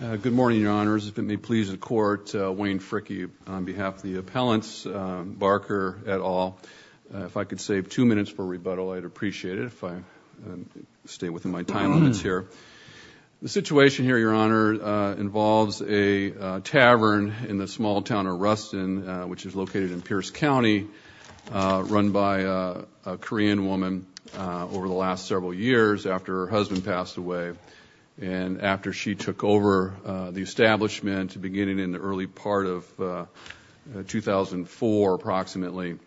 Good morning, Your Honors. If it may please the Court, Wayne Fricke on behalf of the appellants, Barker, et al. If I could save two minutes for rebuttal, I'd appreciate it if I stayed within my time limits here. The situation here, Your Honor, involves a tavern in the small town of Ruston, which is located in Pierce County, run by a Korean woman over the last several years after her husband passed away. And after she took over the establishment beginning in the early part of 2004, approximately,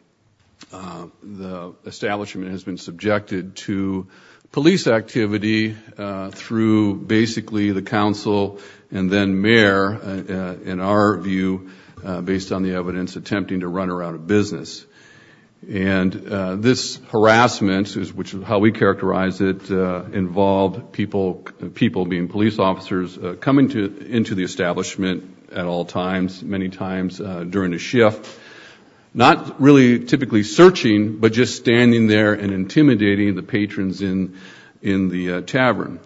the establishment has been subjected to police activity through basically the council and then mayor, in our view, based on the evidence, attempting to run her out of business. And this harassment, which is how we characterize it, involved people, people being police officers, coming into the establishment at all times, many times during a shift, not really typically searching, but just standing there and intimidating the patrons in the tavern.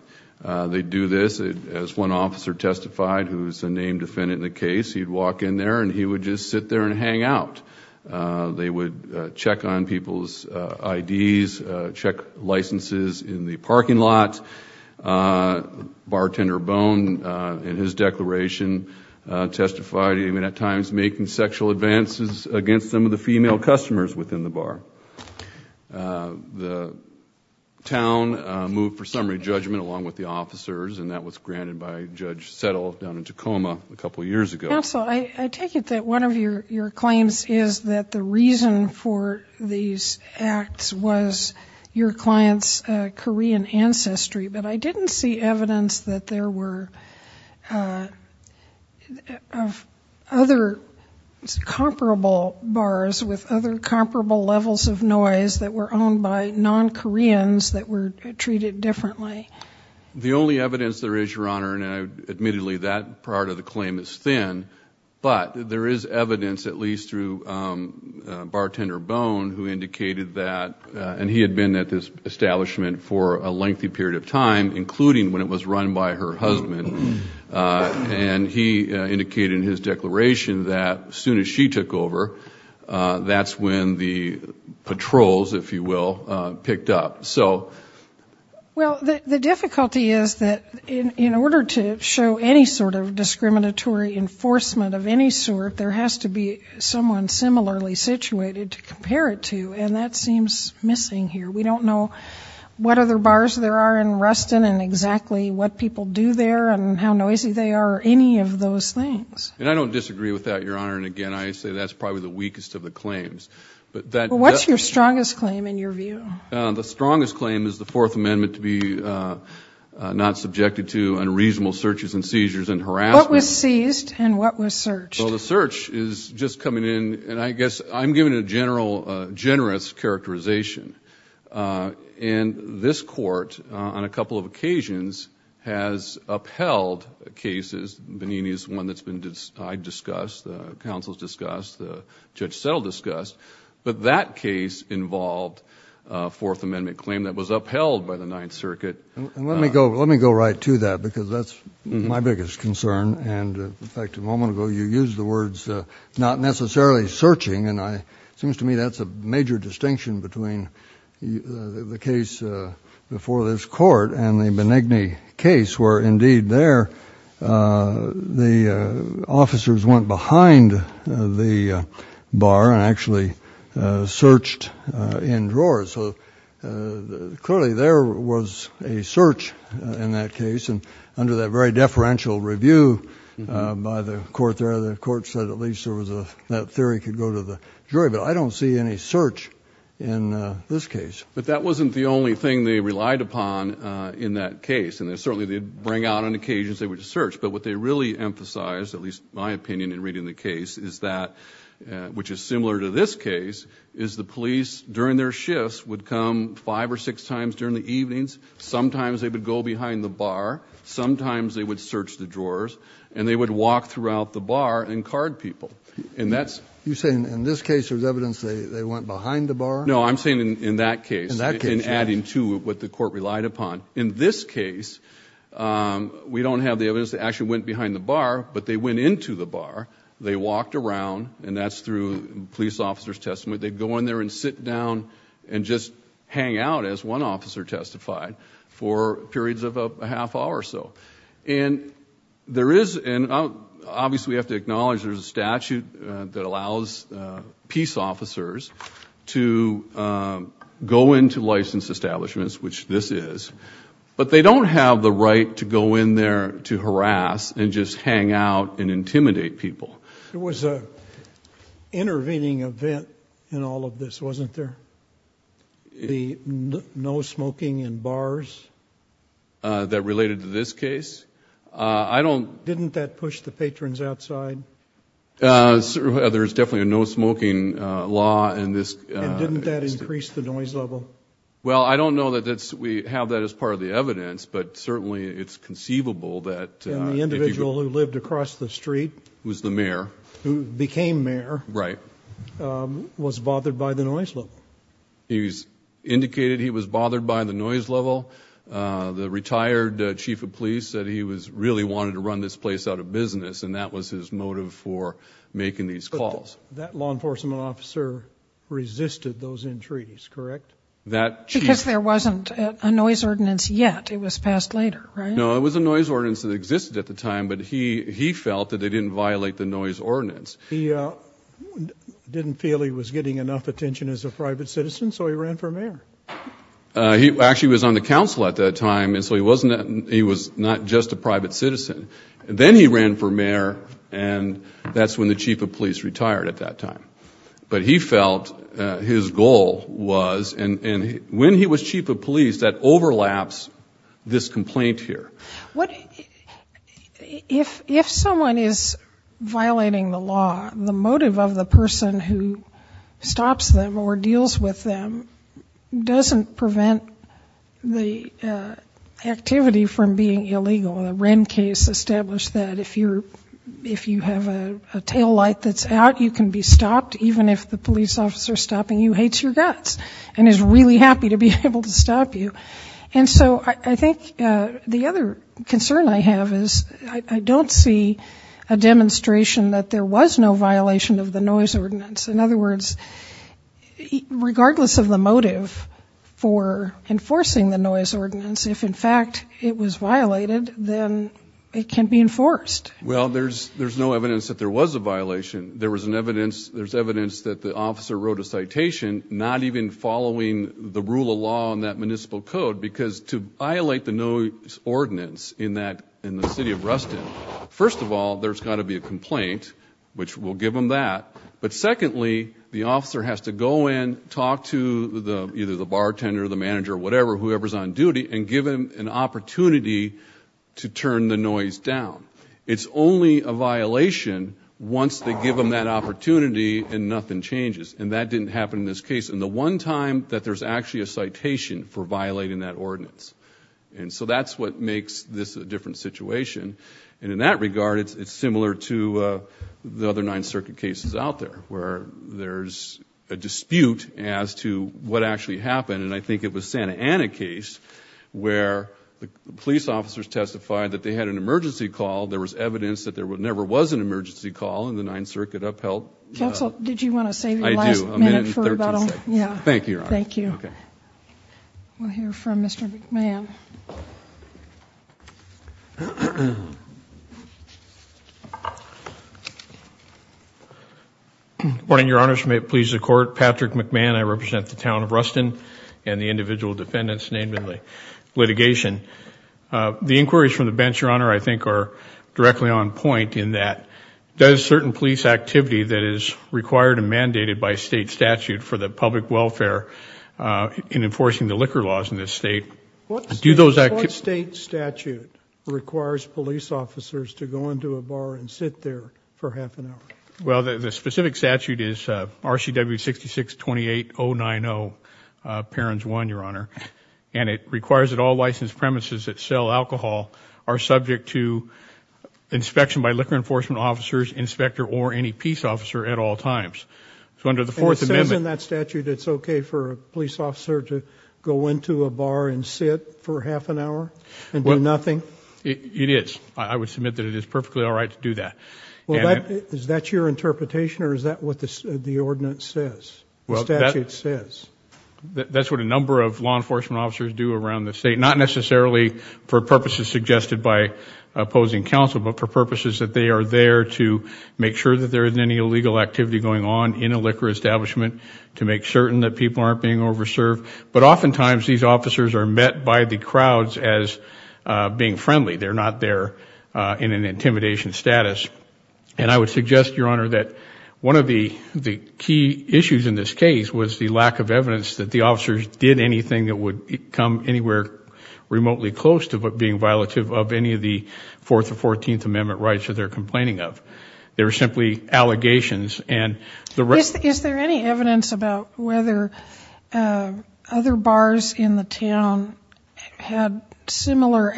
They do this, as one officer testified, who is a named defendant in the case, he'd walk in there and he would just sit there and hang out. They would check on people's IDs, check licenses in the parking lot. Bartender Bone, in his declaration, testified, even at times, making sexual advances against some of the female customers within the bar. The town moved for summary judgment along with the officers, and that was granted by Judge Settle down in Tacoma a couple years ago. Counsel, I take it that one of your claims is that the reason for these acts was your client's Korean ancestry, but I didn't see evidence that there were other comparable bars with other comparable levels of noise that were owned by non-Koreans that were treated differently. The only evidence there is, Your Honor, and admittedly that part of the claim is thin, but there is evidence, at least through Bartender Bone, who indicated that, and he had been at this establishment for a lengthy period of time, including when it was run by her husband, and he indicated in his declaration that as soon as she took over, that's when the patrols, if you will, picked up. Well, the difficulty is that in order to show any sort of discriminatory enforcement of any sort, there has to be someone similarly situated to compare it to, and that seems missing here. We don't know what other bars there are in Ruston and exactly what people do there and how noisy they are or any of those things. And I don't disagree with that, Your Honor, and again, I say that's probably the weakest of the claims. What's your strongest claim, in your view? The strongest claim is the Fourth Amendment to be not subjected to unreasonable searches and seizures and harassment. What was seized and what was searched? Well, the search is just coming in, and I guess I'm given a generous characterization, and this Court on a couple of occasions has upheld cases. Benini is one that's been discussed, the counsel's discussed, the Judge Settle discussed, but that case involved a Fourth Amendment claim that was upheld by the Ninth Circuit. Let me go right to that because that's my biggest concern. In fact, a moment ago you used the words not necessarily searching, and it seems to me that's a major distinction between the case before this Court and the Benigni case, where indeed there the officers went behind the bar and actually searched in drawers. So clearly there was a search in that case, and under that very deferential review by the court there, the court said at least that theory could go to the jury, but I don't see any search in this case. But that wasn't the only thing they relied upon in that case, and certainly they'd bring out on occasions they would search, but what they really emphasized, at least my opinion in reading the case, is that, which is similar to this case, is the police, during their shifts, would come five or six times during the evenings. Sometimes they would go behind the bar. Sometimes they would search the drawers, and they would walk throughout the bar and card people. You're saying in this case there's evidence they went behind the bar? No, I'm saying in that case, in adding to what the court relied upon. In this case, we don't have the evidence they actually went behind the bar, but they went into the bar. They walked around, and that's through police officer's testimony. They'd go in there and sit down and just hang out, as one officer testified, for periods of a half hour or so. And there is, and obviously we have to acknowledge there's a statute that allows peace officers to go into licensed establishments, which this is, but they don't have the right to go in there to harass and just hang out and intimidate people. There was an intervening event in all of this, wasn't there? The no smoking in bars? That related to this case. Didn't that push the patrons outside? There's definitely a no smoking law in this. And didn't that increase the noise level? Well, I don't know that we have that as part of the evidence, but certainly it's conceivable that if you go- And the individual who lived across the street- Was the mayor. Who became mayor- Right. Was bothered by the noise level. He's indicated he was bothered by the noise level. The retired chief of police said he really wanted to run this place out of business, and that was his motive for making these calls. But that law enforcement officer resisted those entreaties, correct? That chief- Because there wasn't a noise ordinance yet. It was passed later, right? No, it was a noise ordinance that existed at the time, but he felt that they didn't violate the noise ordinance. He didn't feel he was getting enough attention as a private citizen, so he ran for mayor. He actually was on the council at that time, and so he was not just a private citizen. Then he ran for mayor, and that's when the chief of police retired at that time. But he felt his goal was- And when he was chief of police, that overlaps this complaint here. If someone is violating the law, the motive of the person who stops them or deals with them doesn't prevent the activity from being illegal. The Wren case established that if you have a taillight that's out, you can be stopped, even if the police officer stopping you hates your guts and is really happy to be able to stop you. And so I think the other concern I have is I don't see a demonstration that there was no violation of the noise ordinance. In other words, regardless of the motive for enforcing the noise ordinance, if, in fact, it was violated, then it can be enforced. Well, there's no evidence that there was a violation. There's evidence that the officer wrote a citation not even following the rule of law in that municipal code because to violate the noise ordinance in the city of Ruston, first of all, there's got to be a complaint, which we'll give them that. But secondly, the officer has to go in, talk to either the bartender or the manager or whatever, whoever's on duty, and give them an opportunity to turn the noise down. It's only a violation once they give them that opportunity and nothing changes. And that didn't happen in this case. And the one time that there's actually a citation for violating that ordinance. And so that's what makes this a different situation. And in that regard, it's similar to the other Ninth Circuit cases out there, where there's a dispute as to what actually happened. And I think it was Santa Ana case where the police officers testified that they had an emergency call. There was evidence that there never was an emergency call in the Ninth Circuit upheld. Counsel, did you want to save your last minute for about a minute and 13 seconds? I do. Thank you, Your Honor. Thank you. We'll hear from Mr. McMahon. Good morning, Your Honor. May it please the Court. Patrick McMahon. I represent the town of Ruston and the individual defendants named in the litigation. The inquiries from the bench, Your Honor, I think are directly on point in that does certain police activity that is required and mandated by state statute for the public welfare in enforcing the liquor laws in this state What state statute requires police officers to go into a bar and sit there for half an hour? Well, the specific statute is RCW 66-28090, parents one, Your Honor. And it requires that all licensed premises that sell alcohol are subject to inspection by liquor enforcement officers, inspector, or any peace officer at all times. So under the Fourth Amendment If it is in that statute, it's okay for a police officer to go into a bar and sit for half an hour and do nothing? It is. I would submit that it is perfectly all right to do that. Is that your interpretation or is that what the ordinance says, the statute says? That's what a number of law enforcement officers do around the state, not necessarily for purposes suggested by opposing counsel, but for purposes that they are there to make sure that there isn't any illegal activity going on in a liquor establishment, to make certain that people aren't being over served. But oftentimes these officers are met by the crowds as being friendly. They're not there in an intimidation status. And I would suggest, Your Honor, that one of the key issues in this case was the lack of evidence that the officers did anything that would come anywhere remotely close to being violative of any of the Fourth or Fourteenth Amendment rights that they're complaining of. They were simply allegations. Is there any evidence about whether other bars in the town had similar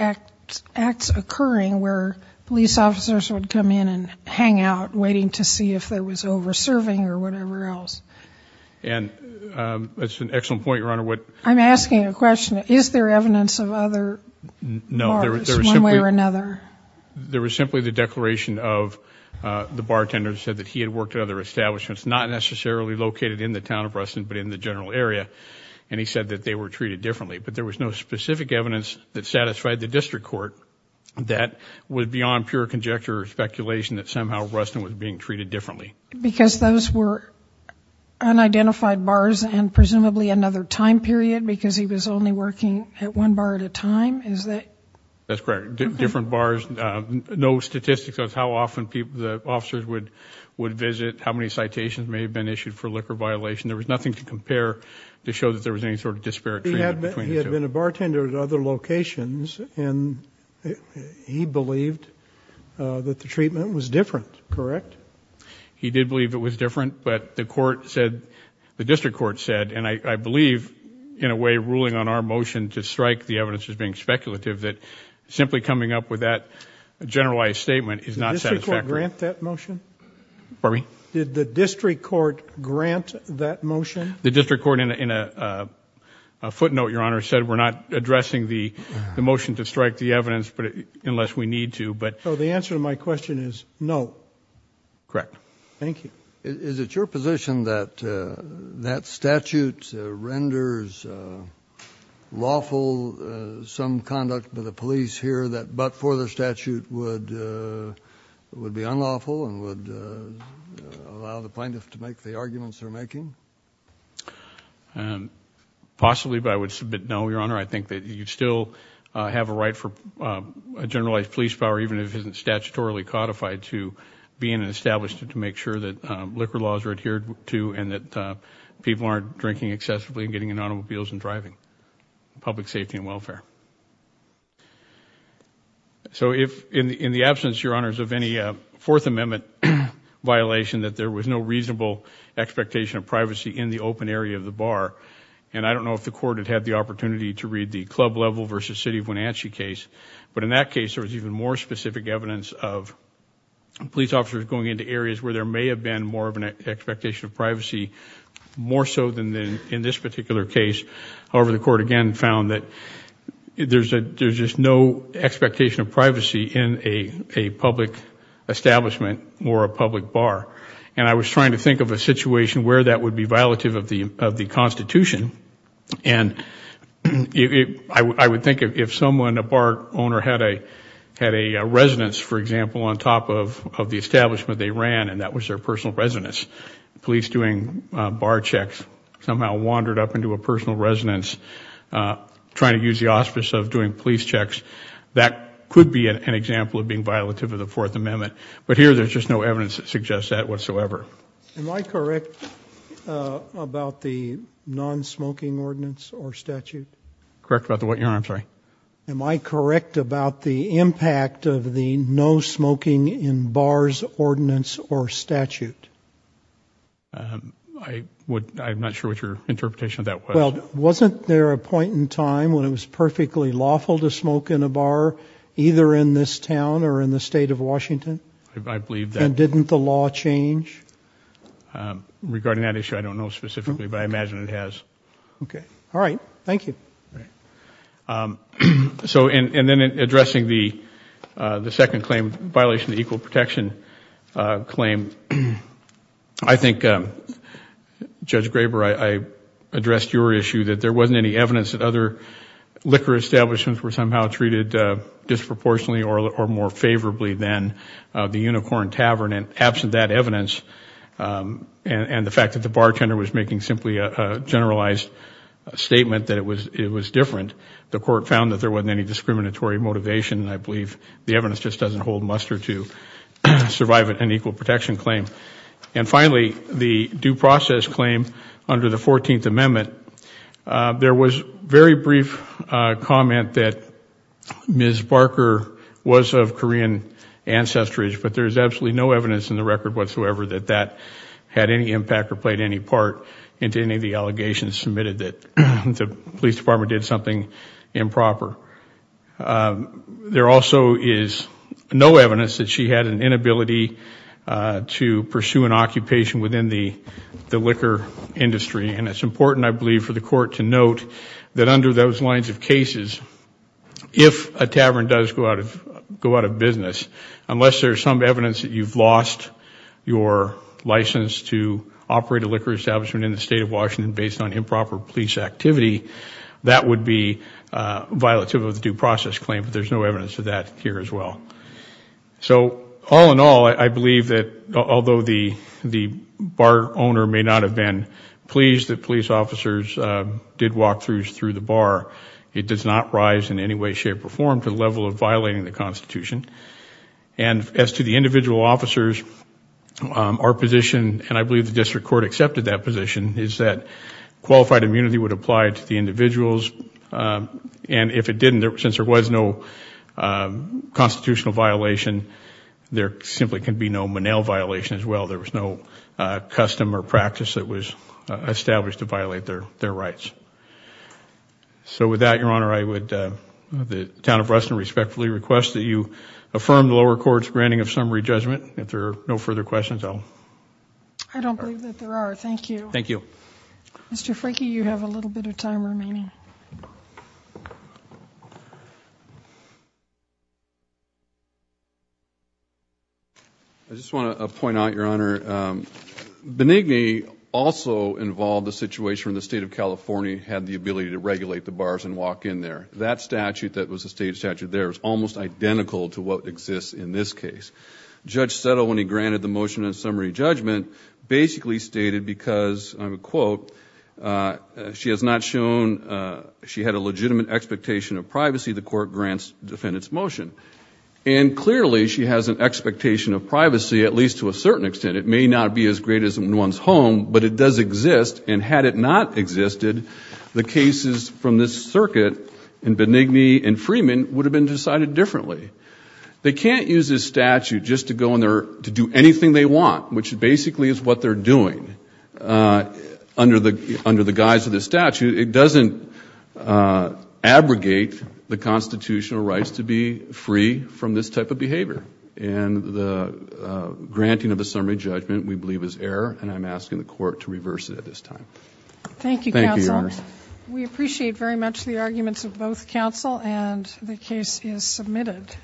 acts occurring where police officers would come in and hang out waiting to see if there was over serving or whatever else? That's an excellent point, Your Honor. I'm asking a question. Is there evidence of other bars one way or another? No. There was simply the declaration of the bartender who said that he had worked at other establishments, not necessarily located in the town of Ruston but in the general area, and he said that they were treated differently. But there was no specific evidence that satisfied the district court that was beyond pure conjecture or speculation that somehow Ruston was being treated differently. Because those were unidentified bars and presumably another time period because he was only working at one bar at a time? Is that? That's correct. Different bars. No statistics of how often the officers would visit, how many citations may have been issued for liquor violation. There was nothing to compare to show that there was any sort of disparate treatment between the two. He had been a bartender at other locations, and he believed that the treatment was different, correct? Correct. He did believe it was different, but the court said, the district court said, and I believe in a way ruling on our motion to strike the evidence as being speculative, that simply coming up with that generalized statement is not satisfactory. Did the district court grant that motion? Pardon me? Did the district court grant that motion? The district court in a footnote, Your Honor, said we're not addressing the motion to strike the evidence unless we need to. So the answer to my question is no. Correct. Thank you. Is it your position that that statute renders lawful some conduct by the police here, that but for the statute would be unlawful and would allow the plaintiff to make the arguments they're making? Your Honor, I think that you still have a right for a generalized police power, even if it isn't statutorily codified to be in and established to make sure that liquor laws are adhered to and that people aren't drinking excessively and getting in automobiles and driving, public safety and welfare. So in the absence, Your Honors, of any Fourth Amendment violation, that there was no reasonable expectation of privacy in the open area of the bar, and I don't know if the court had had the opportunity to read the club level versus city of Wenatchee case, but in that case there was even more specific evidence of police officers going into areas where there may have been more of an expectation of privacy, more so than in this particular case. However, the court again found that there's just no expectation of privacy in a public establishment or a public bar, and I was trying to think of a situation where that would be violative of the Constitution, and I would think if someone, a bar owner, had a residence, for example, on top of the establishment they ran and that was their personal residence, police doing bar checks somehow wandered up into a personal residence trying to use the auspice of doing police checks, that could be an example of being violative of the Fourth Amendment. But here there's just no evidence that suggests that whatsoever. Am I correct about the non-smoking ordinance or statute? Correct about the what, Your Honor? I'm sorry. Am I correct about the impact of the no smoking in bars ordinance or statute? I'm not sure what your interpretation of that was. Well, wasn't there a point in time when it was perfectly lawful to smoke in a bar, either in this town or in the State of Washington? I believe that. And didn't the law change? Regarding that issue I don't know specifically, but I imagine it has. Okay. All right. Thank you. So in addressing the second claim, violation of equal protection claim, I think, Judge Graber, I addressed your issue that there wasn't any evidence that other liquor establishments were somehow treated disproportionately or more favorably than the Unicorn Tavern. And absent that evidence and the fact that the bartender was making simply a generalized statement that it was different, the court found that there wasn't any discriminatory motivation, and I believe the evidence just doesn't hold muster to survive an equal protection claim. And finally, the due process claim under the 14th Amendment, there was very brief comment that Ms. Barker was of Korean ancestry, but there is absolutely no evidence in the record whatsoever that that had any impact or played any part into any of the allegations submitted that the police department did something improper. There also is no evidence that she had an inability to pursue an occupation within the liquor industry, and it's important, I believe, for the court to note that under those lines of cases, if a tavern does go out of business, unless there's some evidence that you've lost your license to operate a liquor establishment in the state of Washington based on improper police activity, that would be violative of the due process claim, but there's no evidence of that here as well. So all in all, I believe that although the bar owner may not have been pleased that police officers did walkthroughs through the bar, it does not rise in any way, shape, or form to the level of violating the Constitution. And as to the individual officers, our position, and I believe the district court accepted that position, is that qualified immunity would apply to the individuals, and if it didn't, since there was no constitutional violation, there simply can be no Monell violation as well. There was no custom or practice that was established to violate their rights. So with that, Your Honor, I would respectfully request that you affirm the lower court's granting of summary judgment. If there are no further questions, I'll... I don't believe that there are. Thank you. Thank you. Mr. Frakey, you have a little bit of time remaining. I just want to point out, Your Honor, Benigni also involved a situation where the State of California had the ability to regulate the bars and walk in there. That statute that was a state statute there is almost identical to what exists in this case. Judge Settle, when he granted the motion of summary judgment, basically stated because, and I'll quote, she has not shown she had a legitimate expectation of privacy, the court grants the defendant's motion. And clearly she has an expectation of privacy, at least to a certain extent. It may not be as great as one's home, but it does exist. And had it not existed, the cases from this circuit in Benigni and Freeman would have been decided differently. They can't use this statute just to go in there to do anything they want, which basically is what they're doing under the guise of this statute. It doesn't abrogate the constitutional rights to be free from this type of behavior. And the granting of a summary judgment we believe is error, and I'm asking the court to reverse it at this time. Thank you, counsel. Thank you, Your Honor. We appreciate very much the arguments of both counsel, and the case is submitted.